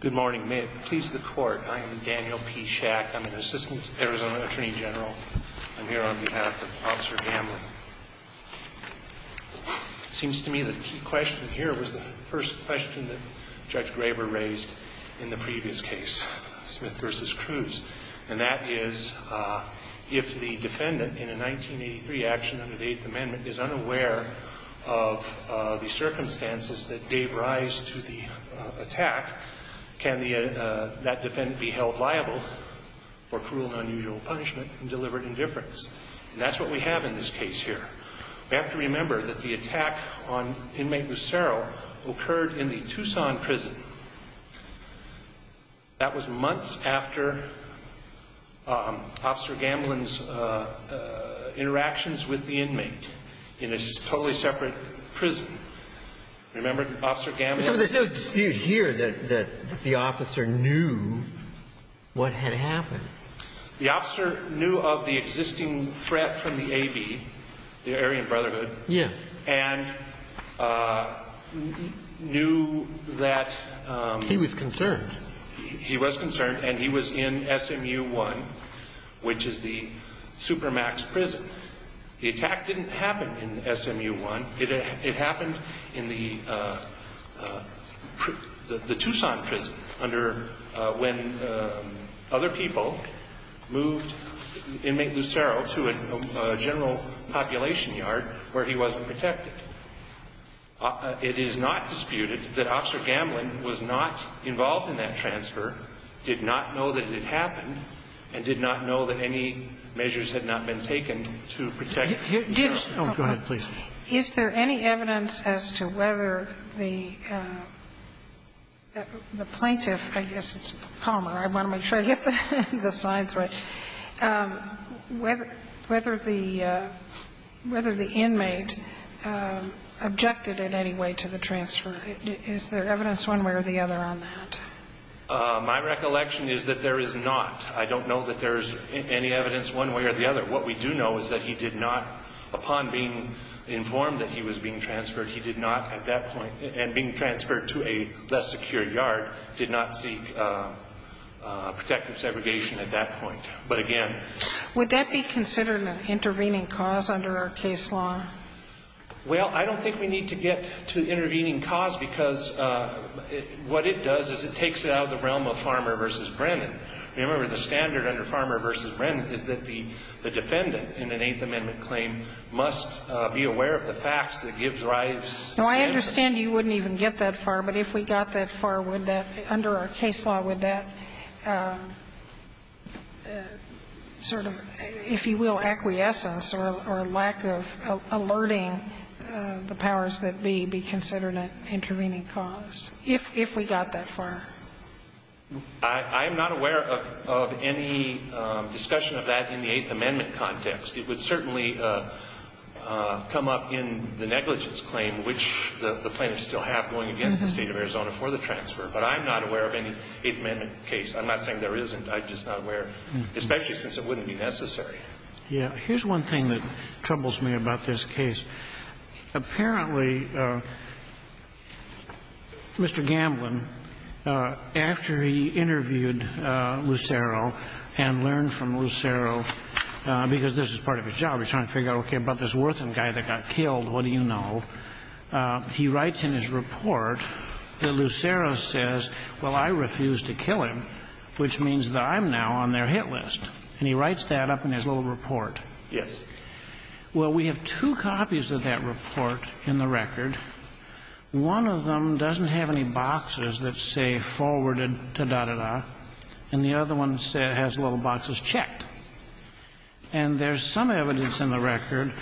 Good morning. May it please the Court, I am Daniel P. Schack. I'm an Assistant Arizona Attorney General. I'm here on behalf of Officer Gamblin. It seems to me the key question here was the first question that Judge Graber raised in the previous case, Smith v. Cruz, and that is, if the defendant in a 1983 action under the Eighth Amendment is unaware of the circumstances that gave rise to the attack, can that defendant be held liable for cruel and unusual punishment and delivered indifference? And that's what we have in this case here. We have to remember that the attack on inmate Lucero occurred in the Tucson prison. That was months after Officer Gamblin's interactions with the inmate in a totally separate prison. Remember Officer Gamblin? So there's no dispute here that the officer knew what had happened. The officer knew of the existing threat from the A.B., the Aryan Brotherhood. Yes. And knew that he was concerned. He was concerned, and he was in SMU 1, which is the Supermax prison. The attack didn't happen in SMU 1. It happened in the Tucson prison under when other people moved inmate Lucero to a general population yard where he wasn't protected. It is not disputed that Officer Gamblin was not involved in that transfer, did not know that it had happened, and did not know that any measures had not been taken to protect him. Go ahead, please. Is there any evidence as to whether the plaintiff, I guess it's Palmer, I want to make sure, whether the inmate objected in any way to the transfer? Is there evidence one way or the other on that? My recollection is that there is not. I don't know that there is any evidence one way or the other. What we do know is that he did not, upon being informed that he was being transferred, he did not at that point, and being transferred to a less secure yard, did not seek protective segregation at that point. But again, Would that be considered an intervening cause under our case law? Well, I don't think we need to get to intervening cause, because what it does is it takes it out of the realm of Farmer v. Brennan. Remember, the standard under Farmer v. Brennan is that the defendant in an Eighth Amendment claim must be aware of the facts that give rise to the inmate. Now, I understand you wouldn't even get that far, but if we got that far, would that, under our case law, would that sort of, if you will, acquiescence or lack of alerting the powers that be, be considered an intervening cause, if we got that far? I am not aware of any discussion of that in the Eighth Amendment context. It would certainly come up in the negligence claim, which the plaintiffs still have going against the State of Arizona for the transfer. But I'm not aware of any Eighth Amendment case. I'm not saying there isn't. I'm just not aware, especially since it wouldn't be necessary. Yeah. Here's one thing that troubles me about this case. Apparently, Mr. Gamblin, after he interviewed Lucero and learned from Lucero, because this is part of his job, he's trying to figure out, okay, about this Wortham guy that got killed, what do you know, he writes in his report that Lucero says, well, I refuse to kill him, which means that I'm now on their hit list. And he writes that up in his little report. Yes. Well, we have two copies of that report in the record. One of them doesn't have any boxes that say forwarded, da, da, da, and the other one has little boxes checked. And there's some evidence in the record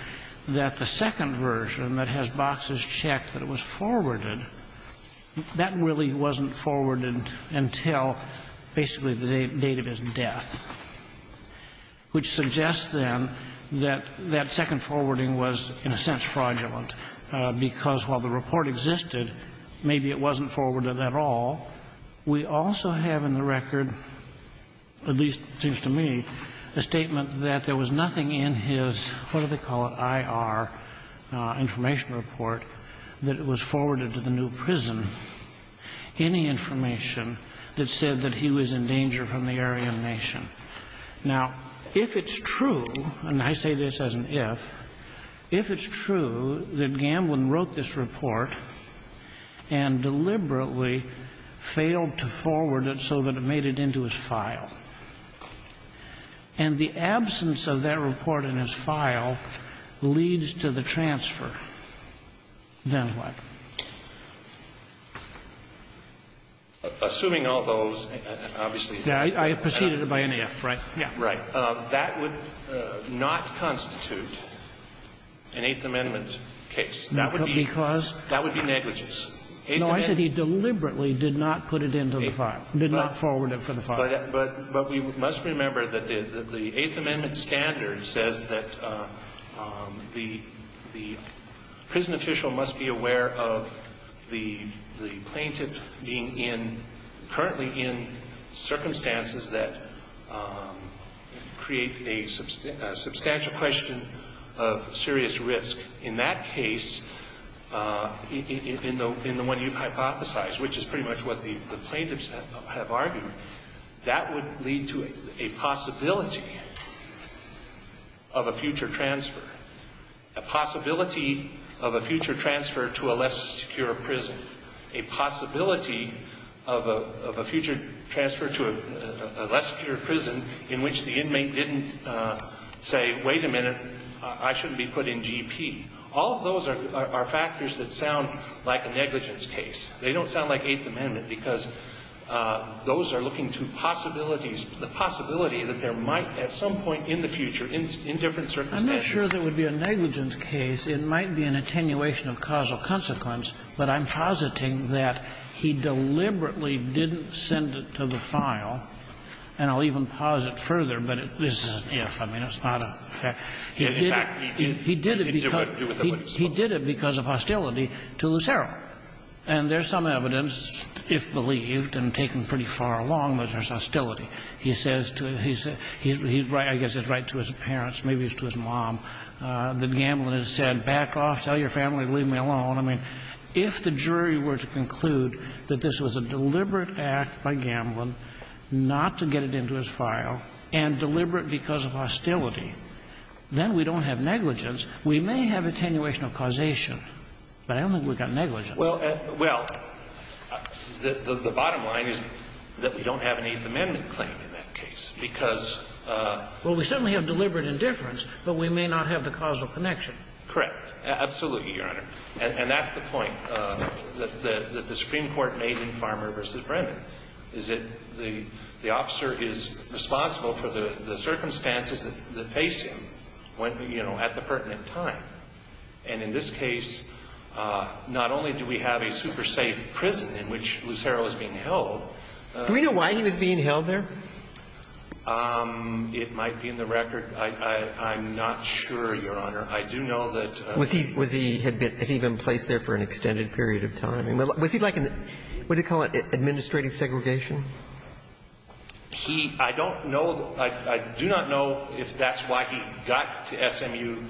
that the second version that has boxes checked that it was forwarded, that really wasn't forwarded until basically the date of his death, which suggests, then, that that second forwarding was, in a sense, fraudulent, because while the report existed, maybe it wasn't forwarded at all. We also have in the record, at least it seems to me, a statement that there was nothing in his, what do they call it, IR, information report, that it was forwarded to the new prison, any information that said that he was in danger from the Aryan nation. Now, if it's true, and I say this as an if, if it's true that Gamblin wrote this report and deliberately failed to forward it so that it made it into his file, and the absence of that report in his file leads to the transfer, then what? Assuming all those, obviously, exactly. I preceded it by an if, right? Yeah. Right. That would not constitute an Eighth Amendment case. That would be negligence. No, I said he deliberately did not put it into the file, did not forward it for the file. But we must remember that the Eighth Amendment standard says that the prison official must be aware of the plaintiff being in, currently in, circumstances that create a substantial question of serious risk. In that case, in the one you hypothesized, which is pretty much what the plaintiffs have argued, that would lead to a possibility of a future transfer, a possibility of a future transfer to a less secure prison, a possibility of a future transfer to a less secure prison in which the inmate didn't say, wait a minute, I shouldn't be put in GP. All of those are factors that sound like a negligence case. They don't sound like Eighth Amendment, because those are looking to possibilities the possibility that there might at some point in the future, in different circumstances. I'm not sure there would be a negligence case. It might be an attenuation of causal consequence, but I'm positing that he deliberately didn't send it to the file. And I'll even posit further, but this is an if. I mean, it's not a fact. He did it because of hostility to Lucero. And there's some evidence, if believed and taken pretty far along, that there's hostility. He says to his — he's right, I guess it's right to his parents, maybe it's to his mom, that Gamblin has said, back off, tell your family to leave me alone. I mean, if the jury were to conclude that this was a deliberate act by Gamblin not to get it into his file, and deliberate because of hostility, then we don't have negligence. We may have attenuation of causation, but I don't think we've got negligence. Well, the bottom line is that we don't have an Eighth Amendment claim in that case, because of the case. Well, we certainly have deliberate indifference, but we may not have the causal connection. Correct. Absolutely, Your Honor. And that's the point that the Supreme Court made in Farmer v. Brennan, is that the officer is responsible for the circumstances that face him when, you know, at the pertinent time. And in this case, not only do we have a super safe prison in which Lucero is being held — Do we know why he was being held there? It might be in the record. I'm not sure, Your Honor. I do know that — Was he — was he — had he been placed there for an extended period of time? Was he like in the — what do you call it? Administrative segregation? He — I don't know. I do not know if that's why he got to SMU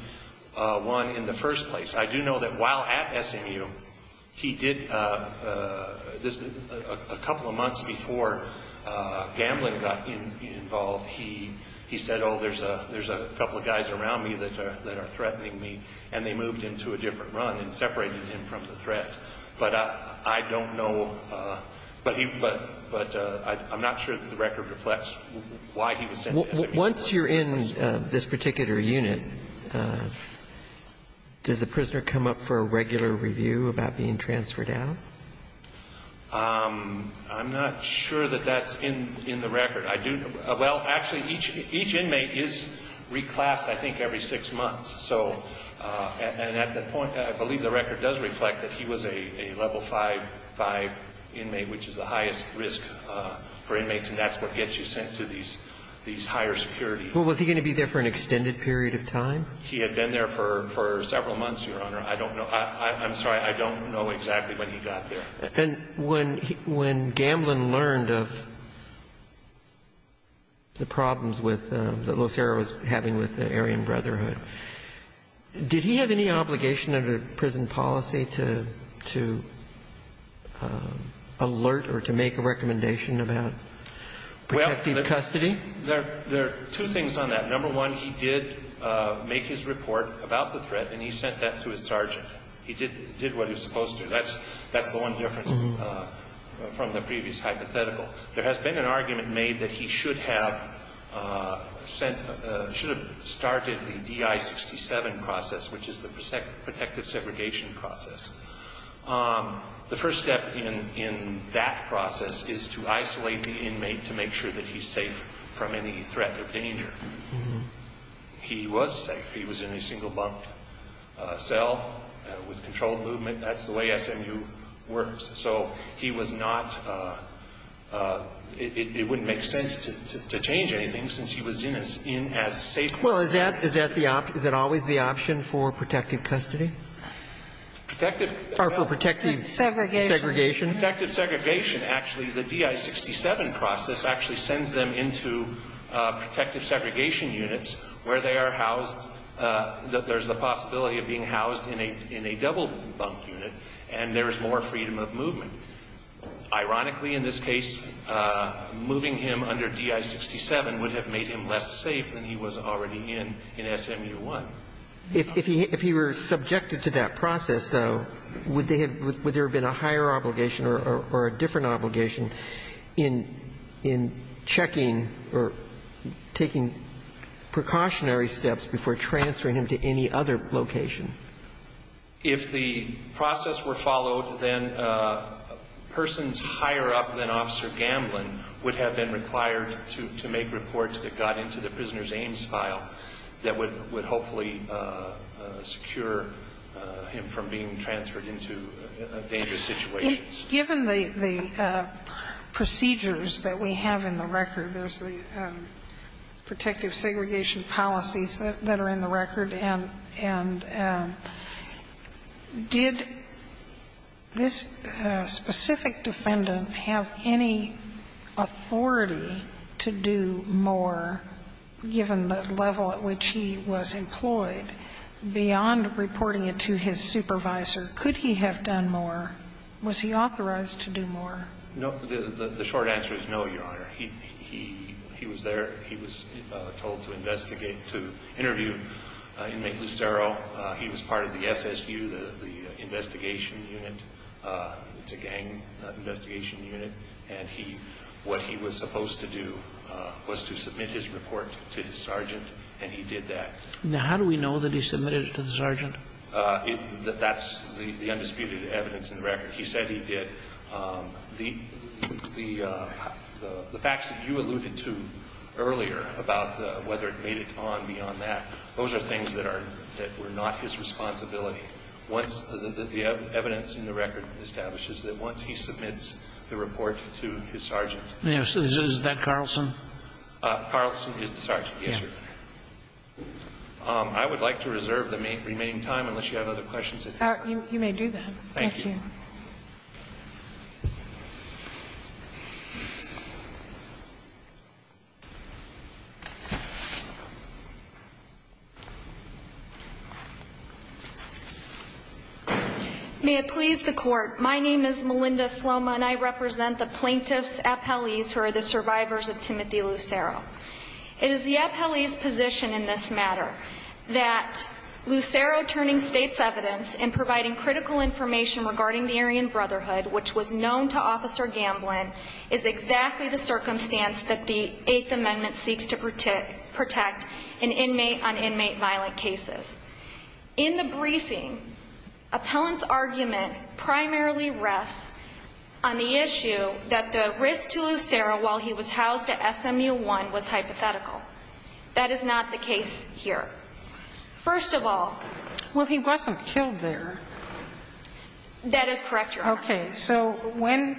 I in the first place. I do know that while at SMU, he did — a couple of months before Gamblin got involved, he said, oh, there's a couple of guys around me that are threatening me, and they moved him to a different run and separated him from the threat. But I don't know — but I'm not sure that the record reflects why he was sent to SMU. Once you're in this particular unit, does the prisoner come up for a regular review about being transferred out? I'm not sure that that's in the record. I do — well, actually, each — each inmate is reclassed, I think, every six months. So — and at that point, I believe the record does reflect that he was a level 5 — 5 inmate, which is the highest risk for inmates, and that's what gets you sent to these higher security units. Well, was he going to be there for an extended period of time? He had been there for several months, Your Honor. I don't know. I'm sorry. I don't know exactly when he got there. And when — when Gamblin learned of the problems with — that Locero was having with the Aryan Brotherhood, did he have any obligation under prison policy to — to alert or to make a recommendation about protective custody? Well, there are two things on that. Number one, he did make his report about the threat, and he sent that to his sergeant. He did what he was supposed to. That's — that's the one difference from the previous hypothetical. There has been an argument made that he should have sent — should have started the DI-67 process, which is the protective segregation process. The first step in that process is to isolate the inmate to make sure that he's safe from any threat or danger. He was safe. He was in a single-bunked cell with controlled movement. That's the way SMU works. So he was not — it wouldn't make sense to change anything since he was in a — in as safe — Well, is that — is that the — is that always the option for protective custody? Protective — Or for protective segregation? Protective segregation. Actually, the DI-67 process actually sends them into protective segregation units where they are housed — there's the possibility of being housed in a — in a double-bunked unit and there's more freedom of movement. Ironically, in this case, moving him under DI-67 would have made him less safe than he was already in — in SMU-1. If he — if he were subjected to that process, though, would they have — would there have been a higher obligation or a different obligation in — in checking or taking precautionary steps before transferring him to any other location? If the process were followed, then persons higher up than Officer Gamblin would have been required to — to make reports that got into the Prisoner's Aims file that would — would hopefully secure him from being transferred into dangerous situations. Given the — the procedures that we have in the record, there's the protective segregation policies that — that are in the record, and — and did this specific defendant have any authority to do more, given the level at which he was employed? Beyond reporting it to his supervisor, could he have done more? Was he authorized to do more? No. The short answer is no, Your Honor. He — he — he was there. He was told to investigate — to interview Inmate Lucero. He was part of the SSU, the investigation unit. It's a gang investigation unit. And he — what he was supposed to do was to submit his report to the sergeant, and he did that. Now, how do we know that he submitted it to the sergeant? That's the undisputed evidence in the record. He said he did. The — the facts that you alluded to earlier about whether it made it on beyond that, those are things that are — that were not his responsibility. Once — the evidence in the record establishes that once he submits the report to his sergeant — Yes. Is that Carlson? Carlson is the sergeant, yes, Your Honor. I would like to reserve the remaining time, unless you have other questions at this time. You may do that. Thank you. Thank you. May it please the Court, my name is Melinda Sloma, and I represent the plaintiff's appellees who are the survivors of Timothy Lucero. It is the appellee's position in this matter that Lucero turning state's evidence in providing critical information regarding the Aryan Brotherhood, which was known to Officer Gamblin, is exactly the circumstance that the Eighth Amendment seeks to protect an inmate on inmate violent cases. In the briefing, appellant's argument primarily rests on the issue that the risk to Lucero while he was housed at SMU1 was hypothetical. That is not the case here. First of all — Well, he wasn't killed there. That is correct, Your Honor. Okay. So when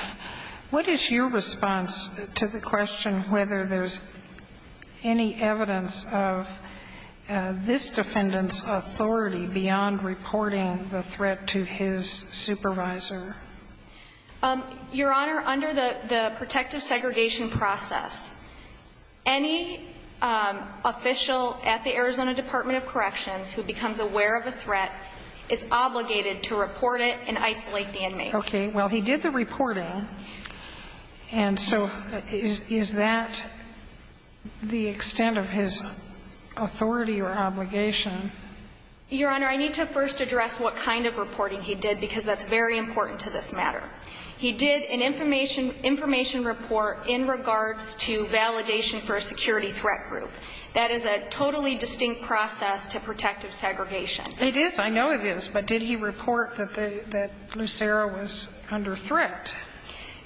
— what is your response to the question whether there's any evidence of this defendant's authority beyond reporting the threat to his supervisor? Your Honor, under the protective segregation process, any official at the Arizona Department of Corrections who becomes aware of a threat is obligated to report it and isolate the inmate. Okay. Well, he did the reporting, and so is that the extent of his authority or obligation? Your Honor, I need to first address what kind of reporting he did, because that's very important to this matter. He did an information — information report in regards to validation for a security threat group. That is a totally distinct process to protective segregation. It is. I know it is. But did he report that Lucero was under threat?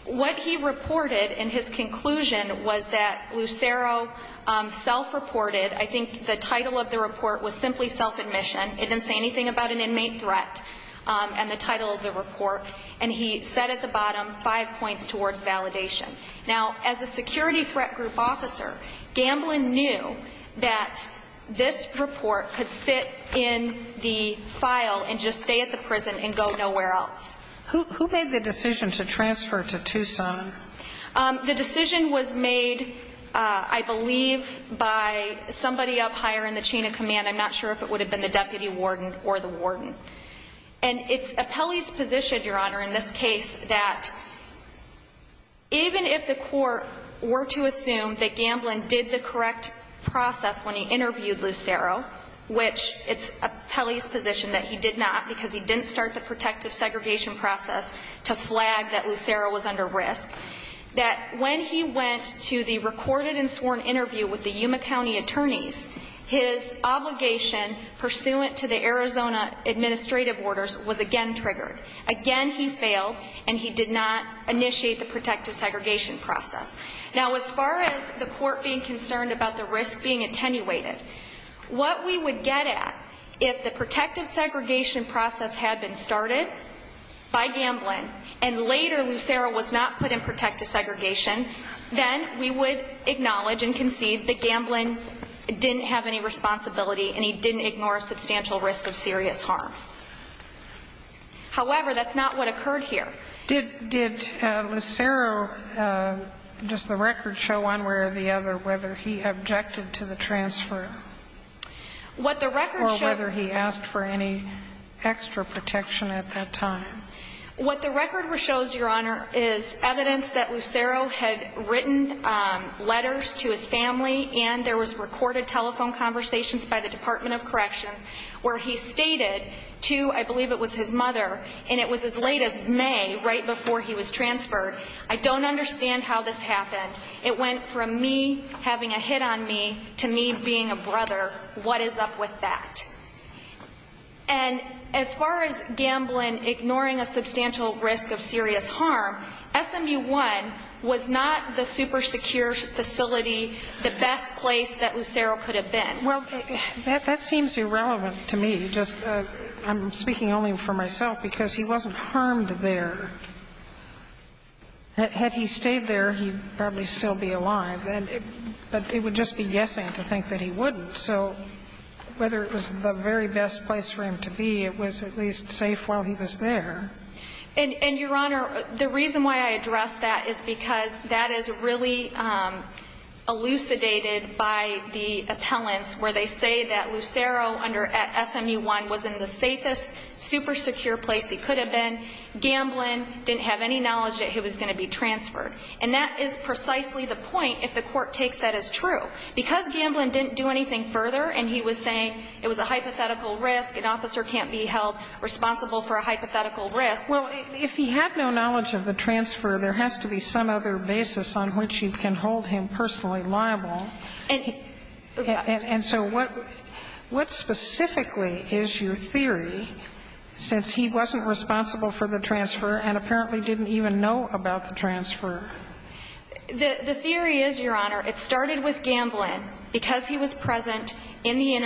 What he reported in his conclusion was that Lucero self-reported — I think the title of the report was simply self-admission. It didn't say anything about an inmate threat and the title of the report. And he said at the bottom, five points towards validation. Now, as a security threat group officer, Gamblin knew that this report could sit in the file and just stay at the prison and go nowhere else. Who made the decision to transfer to Tucson? The decision was made, I believe, by somebody up higher in the chain of command. I'm not sure if it would have been the deputy warden or the warden. And it's Apelli's position, Your Honor, in this case, that even if the court were to assume that Gamblin did the correct process when he interviewed Lucero, which it's Apelli's position that he did not because he didn't start the protective segregation process to flag that Lucero was under risk, that when he went to the recorded and sworn interview with the Yuma County attorneys, his obligation pursuant to the Arizona administrative orders was again triggered. Again, he failed and he did not initiate the protective segregation process. Now, as far as the court being concerned about the risk being attenuated, what we would get at if the protective segregation process had been started by Gamblin and later Lucero was not put in protective segregation, then we would acknowledge and concede that Gamblin didn't have any responsibility and he didn't ignore substantial risk of serious harm. However, that's not what occurred here. Did Lucero, does the record show one way or the other whether he objected to the transfer or whether he asked for any extra protection at that time? What the record shows, Your Honor, is evidence that Lucero had written letters to his family and there was recorded telephone conversations by the Department of Corrections where he stated to, I believe it was his mother, and it was as late as May, right before he was transferred, I don't understand how this happened. It went from me having a hit on me to me being a brother. What is up with that? And as far as Gamblin ignoring a substantial risk of serious harm, SMU-1 was not the super secure facility, the best place that Lucero could have been. Well, that seems irrelevant to me. I'm speaking only for myself because he wasn't harmed there. Had he stayed there, he'd probably still be alive. But it would just be guessing to think that he wouldn't. So whether it was the very best place for him to be, it was at least safe while he was there. And, Your Honor, the reason why I address that is because that is really elucidated by the appellants where they say that Lucero under SMU-1 was in the safest, super secure place he could have been. Gamblin didn't have any knowledge that he was going to be transferred. And that is precisely the point if the court takes that as true. Because Gamblin didn't do anything further and he was saying it was a hypothetical risk, an officer can't be held responsible for a hypothetical risk. Well, if he had no knowledge of the transfer, there has to be some other basis on which you can hold him personally liable. And so what specifically is your theory, since he wasn't responsible for the transfer and apparently didn't even know about the transfer? The theory is, Your Honor, it started with Gamblin, because he was present in the He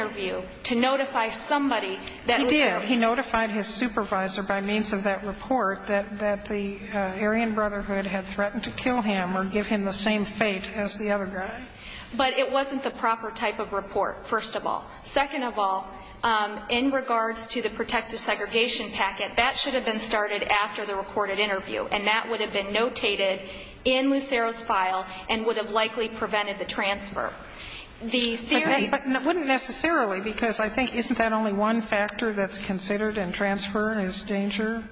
did. He notified his supervisor by means of that report that the Aryan Brotherhood had threatened to kill him or give him the same fate as the other guy. But it wasn't the proper type of report, first of all. Second of all, in regards to the protective segregation packet, that should have been started after the recorded interview. And that would have been notated in Lucero's file and would have likely prevented the transfer. The theory But wouldn't necessarily, because I think isn't that only one factor that's considered in transfer as danger?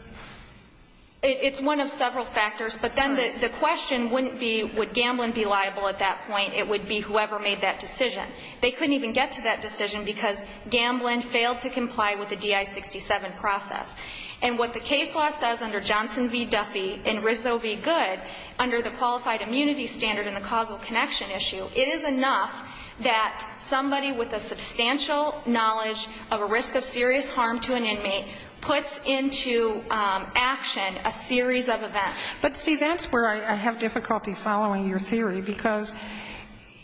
It's one of several factors. But then the question wouldn't be would Gamblin be liable at that point. It would be whoever made that decision. They couldn't even get to that decision because Gamblin failed to comply with the DI-67 process. And what the case law says under Johnson v. Duffy and Rizzo v. Good, under the Qualified Immunity Standard and the causal connection issue, it is enough that somebody with a substantial knowledge of a risk of serious harm to an inmate puts into action a series of events. But, see, that's where I have difficulty following your theory, because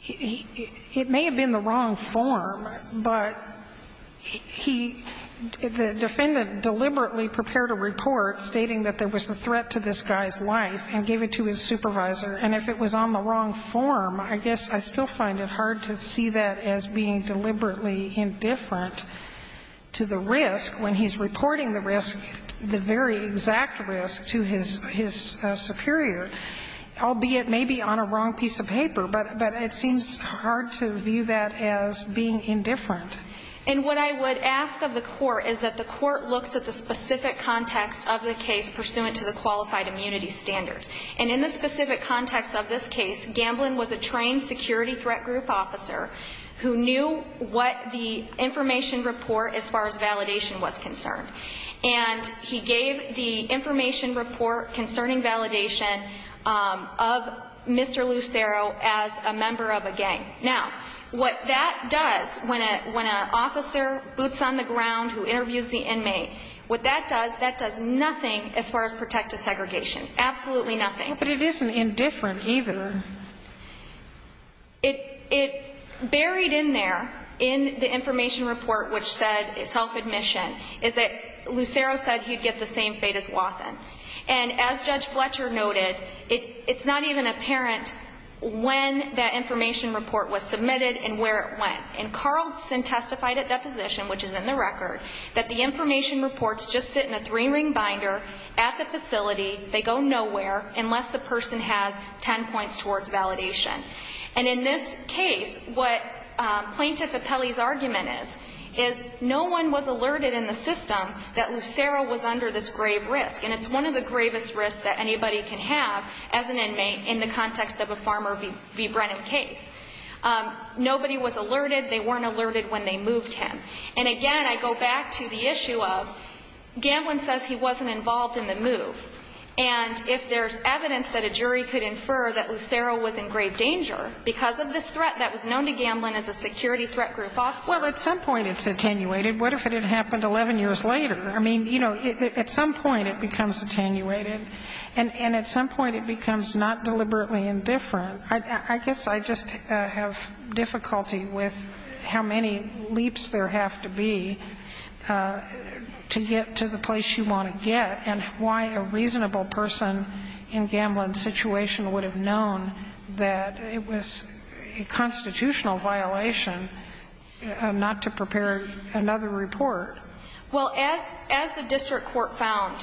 it may have been the wrong form, but he, the defendant deliberately prepared a report stating that there was a threat to this guy's life and gave it to his supervisor. And if it was on the wrong form, I guess I still find it hard to see that as being deliberately indifferent to the risk when he's reporting the risk, the very exact risk, to his superior, albeit maybe on a wrong piece of paper. But it seems hard to view that as being indifferent. And what I would ask of the Court is that the Court looks at the specific context of the case pursuant to the Qualified Immunity Standards. And in the specific context of this case, Gamblin was a trained security threat group officer who knew what the information report as far as validation was concerned. And he gave the information report concerning validation of Mr. Lucero as a member of a gang. Now, what that does when an officer boots on the ground who interviews the inmate, what that does, that does nothing as far as protective segregation. Absolutely nothing. But it isn't indifferent either. It buried in there, in the information report which said self-admission, is that Lucero said he'd get the same fate as Wathen. And as Judge Fletcher noted, it's not even apparent when that information report was submitted and where it went. And Carlson testified at deposition, which is in the record, that the information unless the person has ten points towards validation. And in this case, what Plaintiff Apelli's argument is, is no one was alerted in the system that Lucero was under this grave risk. And it's one of the gravest risks that anybody can have as an inmate in the context of a Farmer v. Brennan case. Nobody was alerted. They weren't alerted when they moved him. And again, I go back to the issue of Gamblin says he wasn't involved in the move. And if there's evidence that a jury could infer that Lucero was in grave danger because of this threat that was known to Gamblin as a security threat group officer. Well, at some point it's attenuated. What if it had happened 11 years later? I mean, you know, at some point it becomes attenuated. And at some point it becomes not deliberately indifferent. I guess I just have difficulty with how many leaps there have to be to get to the place you want to get. And why a reasonable person in Gamblin's situation would have known that it was a constitutional violation not to prepare another report. Well, as the district court found,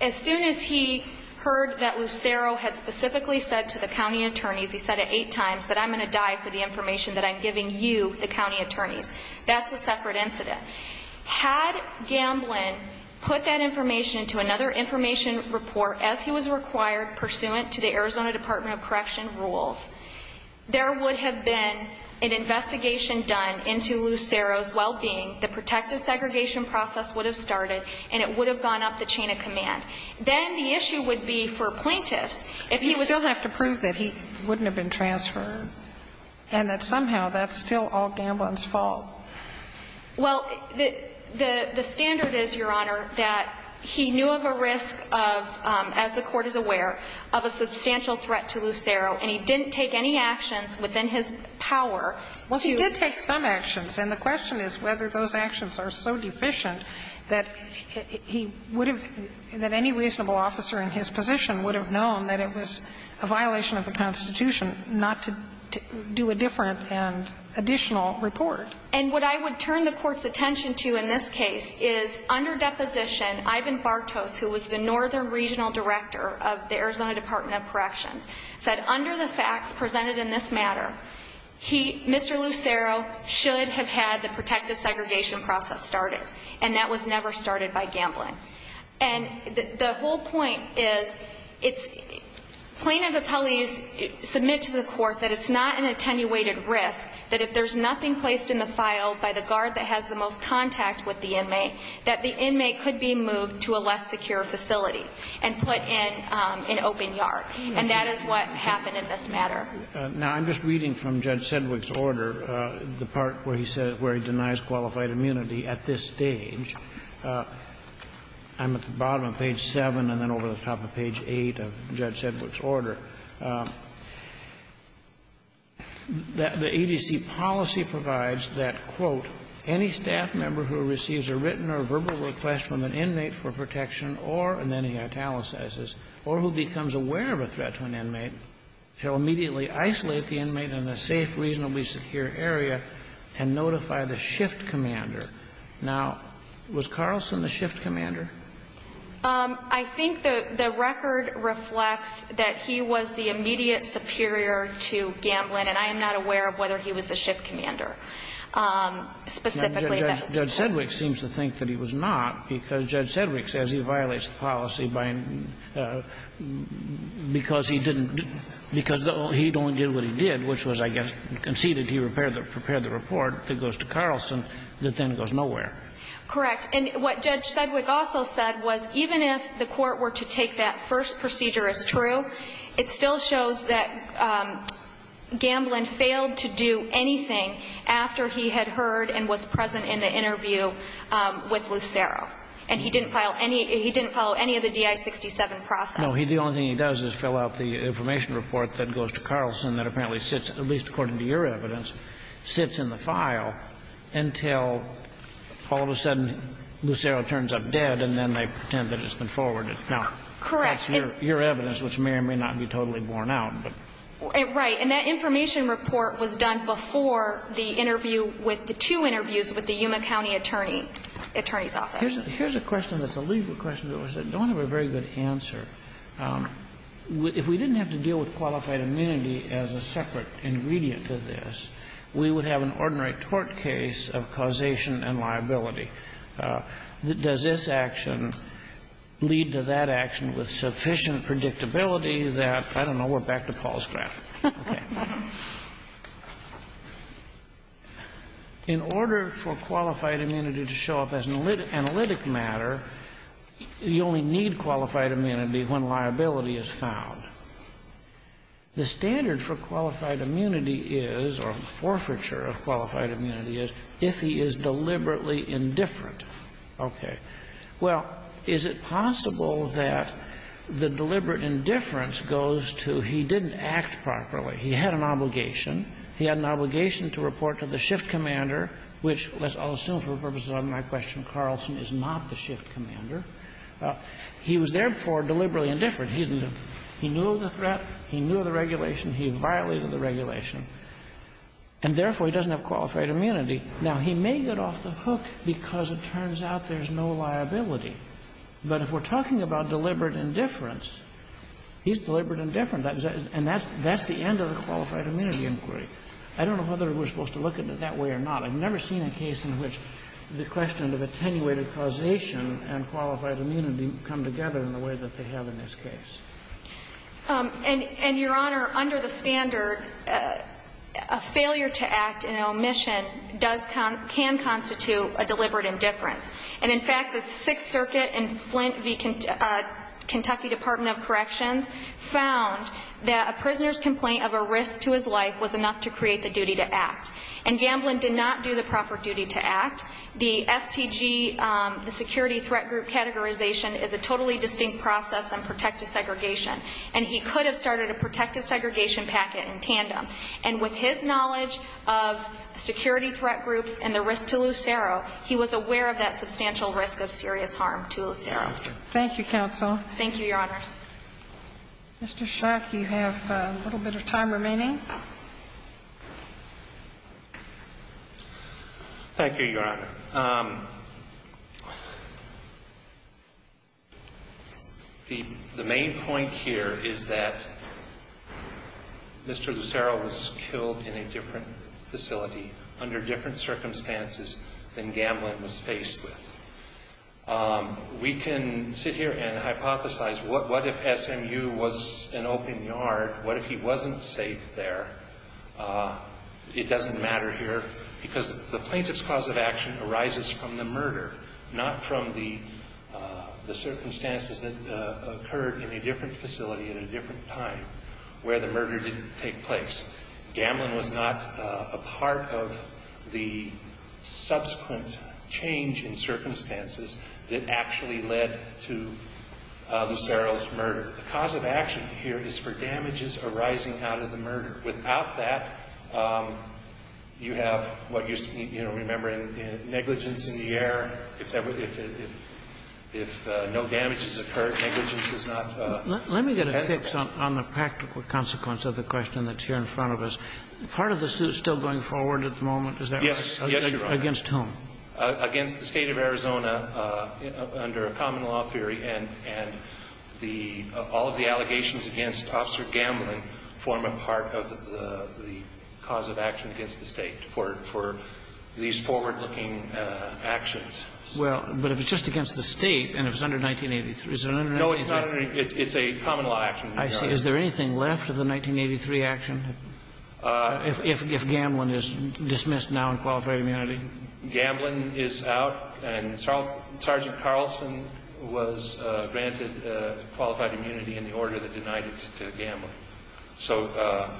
as soon as he heard that Lucero had specifically said to the county attorneys, he said it eight times, that I'm going to die for the information that I'm giving you, the county attorneys. That's a separate incident. Had Gamblin put that information into another information report as he was required pursuant to the Arizona Department of Correction rules, there would have been an investigation done into Lucero's well-being, the protective segregation process would have started, and it would have gone up the chain of command. Then the issue would be for plaintiffs, if he was to prove that he wouldn't have been transferred and that somehow that's still all Gamblin's fault. Well, the standard is, Your Honor, that he knew of a risk of, as the Court is aware, of a substantial threat to Lucero, and he didn't take any actions within his power to do that. Well, he did take some actions. And the question is whether those actions are so deficient that he would have – that any reasonable officer in his position would have known that it was a violation of the Constitution not to do a different and additional report. And what I would turn the Court's attention to in this case is, under deposition, Ivan Bartos, who was the northern regional director of the Arizona Department of Corrections, said under the facts presented in this matter, he, Mr. Lucero, should have had the protective segregation process started, and that was never started by Gamblin. And the whole point is it's – plaintiff appellees submit to the Court that it's not an attenuated risk, that if there's nothing placed in the file by the guard that has the most contact with the inmate, that the inmate could be moved to a less secure facility and put in an open yard. And that is what happened in this matter. Now, I'm just reading from Judge Sedgwick's order, the part where he said – where I'm at the bottom of page 7 and then over the top of page 8 of Judge Sedgwick's order – that the ADC policy provides that, quote, any staff member who receives a written or verbal request from an inmate for protection or – and then he italicizes – or who becomes aware of a threat to an inmate shall immediately isolate the inmate in a safe, reasonably secure area and notify the shift commander. Now, was Carlson the shift commander? I think the – the record reflects that he was the immediate superior to Gamblin, and I am not aware of whether he was the shift commander. Specifically, the – Then Judge Sedgwick seems to think that he was not, because Judge Sedgwick says he violates the policy by – because he didn't – because he only did what he did, which was, I guess, conceded he prepared the report that goes to Carlson that then goes nowhere. Correct. And what Judge Sedgwick also said was even if the court were to take that first procedure as true, it still shows that Gamblin failed to do anything after he had heard and was present in the interview with Lucero, and he didn't file any – he didn't follow any of the DI-67 process. No. The only thing he does is fill out the information report that goes to Carlson that apparently sits, at least according to your evidence, sits in the file until all of a sudden Lucero turns up dead, and then they pretend that it's been forwarded. Correct. Now, that's your evidence, which may or may not be totally borne out. Right. And that information report was done before the interview with the two interviews with the Yuma County attorney's office. Here's a question that's a legal question that we don't have a very good answer. If we didn't have to deal with qualified immunity as a separate ingredient to this, we would have an ordinary tort case of causation and liability. Does this action lead to that action with sufficient predictability that – I don't know. We're back to Paul's graph. Okay. In order for qualified immunity to show up as an analytic matter, you only need qualified immunity when liability is found. The standard for qualified immunity is, or the forfeiture of qualified immunity is, if he is deliberately indifferent. Okay. Well, is it possible that the deliberate indifference goes to he didn't act properly? He had an obligation. He had an obligation to report to the shift commander, which I'll assume for purposes of my question, Carlson is not the shift commander. He was therefore deliberately indifferent. He knew of the threat. He knew of the regulation. He violated the regulation. And therefore, he doesn't have qualified immunity. Now, he may get off the hook because it turns out there's no liability. But if we're talking about deliberate indifference, he's deliberate indifferent. And that's the end of the qualified immunity inquiry. I don't know whether we're supposed to look at it that way or not. But I've never seen a case in which the question of attenuated causation and qualified immunity come together in the way that they have in this case. And, Your Honor, under the standard, a failure to act in an omission does con — can constitute a deliberate indifference. And in fact, the Sixth Circuit and Flint v. Kentucky Department of Corrections found that a prisoner's complaint of a risk to his life was enough to create the duty to act. And Gamblin did not do the proper duty to act. The STG, the security threat group categorization, is a totally distinct process than protective segregation. And he could have started a protective segregation packet in tandem. And with his knowledge of security threat groups and the risk to Lucero, he was aware of that substantial risk of serious harm to Lucero. Thank you, counsel. Thank you, Your Honors. Mr. Schock, you have a little bit of time remaining. Thank you, Your Honor. The main point here is that Mr. Lucero was killed in a different facility under different circumstances than Gamblin was faced with. We can sit here and hypothesize, what if SMU was an open yard? What if he wasn't safe there? It doesn't matter here because the plaintiff's cause of action arises from the murder, not from the circumstances that occurred in a different facility at a different time where the murder didn't take place. Gamblin was not a part of the subsequent change in circumstances that actually led to Lucero's murder. The cause of action here is for damages arising out of the murder. Without that, you have what used to be, you know, remember, negligence in the air. If no damage has occurred, negligence is not a consequence. Let me get a fix on the practical consequence of the question that's here in front of us. Part of this is still going forward at the moment, is that right? Yes, Your Honor. Against whom? Against the State of Arizona under a common law theory, and the all of the allegations against Officer Gamblin form a part of the cause of action against the State for these forward-looking actions. Well, but if it's just against the State and if it's under 1983, is it under 1983? No, it's not. It's a common law action. I see. Is there anything left of the 1983 action if Gamblin is dismissed now and qualified immunity? I believe Gamblin is out, and Sergeant Carlson was granted qualified immunity in the order that denied it to Gamblin. So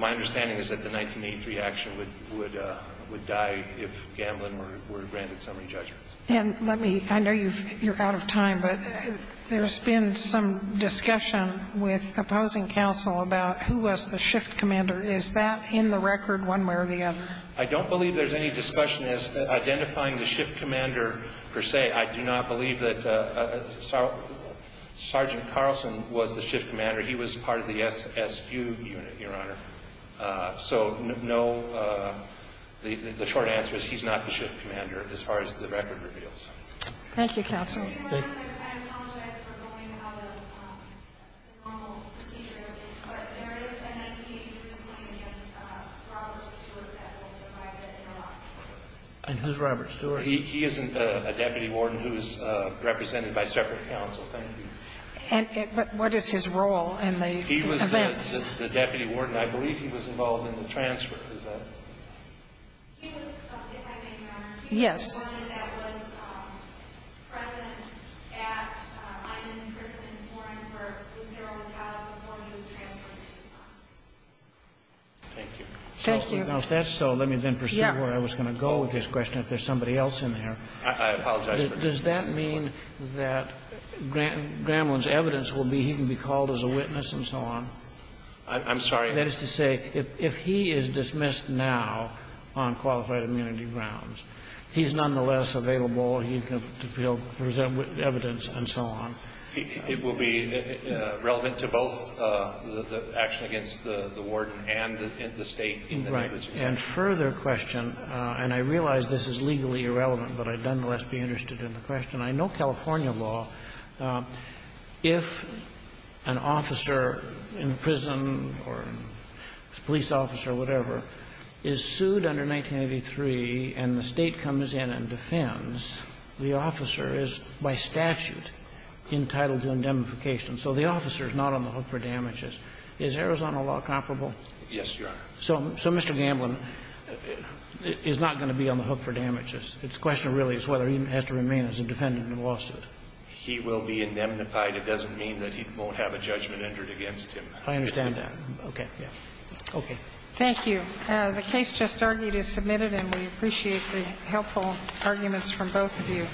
my understanding is that the 1983 action would die if Gamblin were granted summary judgment. And let me – I know you're out of time, but there's been some discussion with opposing counsel about who was the shift commander. Is that in the record one way or the other? I don't believe there's any discussion as to identifying the shift commander per se. I do not believe that Sergeant Carlson was the shift commander. He was part of the SSU unit, Your Honor. So no – the short answer is he's not the shift commander as far as the record reveals. Thank you, counsel. And who's Robert Stewart? He isn't a deputy warden who's represented by separate counsel. Thank you. And what is his role in the events? He was the deputy warden. I believe he was involved in the transfer. Is that right? Yes. Thank you. Thank you. Now, if that's so, let me then pursue where I was going to go with this question if there's somebody else in there. I apologize. Does that mean that Gamblin's evidence will be he can be called as a witness and so on? I'm sorry? It will be nonetheless available. He can present evidence and so on. It will be relevant to both the action against the warden and the State in the negligence case. Right. And further question, and I realize this is legally irrelevant, but I'd nonetheless be interested in the question. I know California law, if an officer in prison or a police officer or whatever is sued under 1983 and the State comes in and defends, the officer is by statute entitled to indemnification. So the officer is not on the hook for damages. Is Arizona law comparable? Yes, Your Honor. So Mr. Gamblin is not going to be on the hook for damages. The question really is whether he has to remain as a defendant in a lawsuit. He will be indemnified. It doesn't mean that he won't have a judgment entered against him. I understand that. Okay. Okay. Thank you. The case just argued is submitted, and we appreciate the helpful arguments from both of you.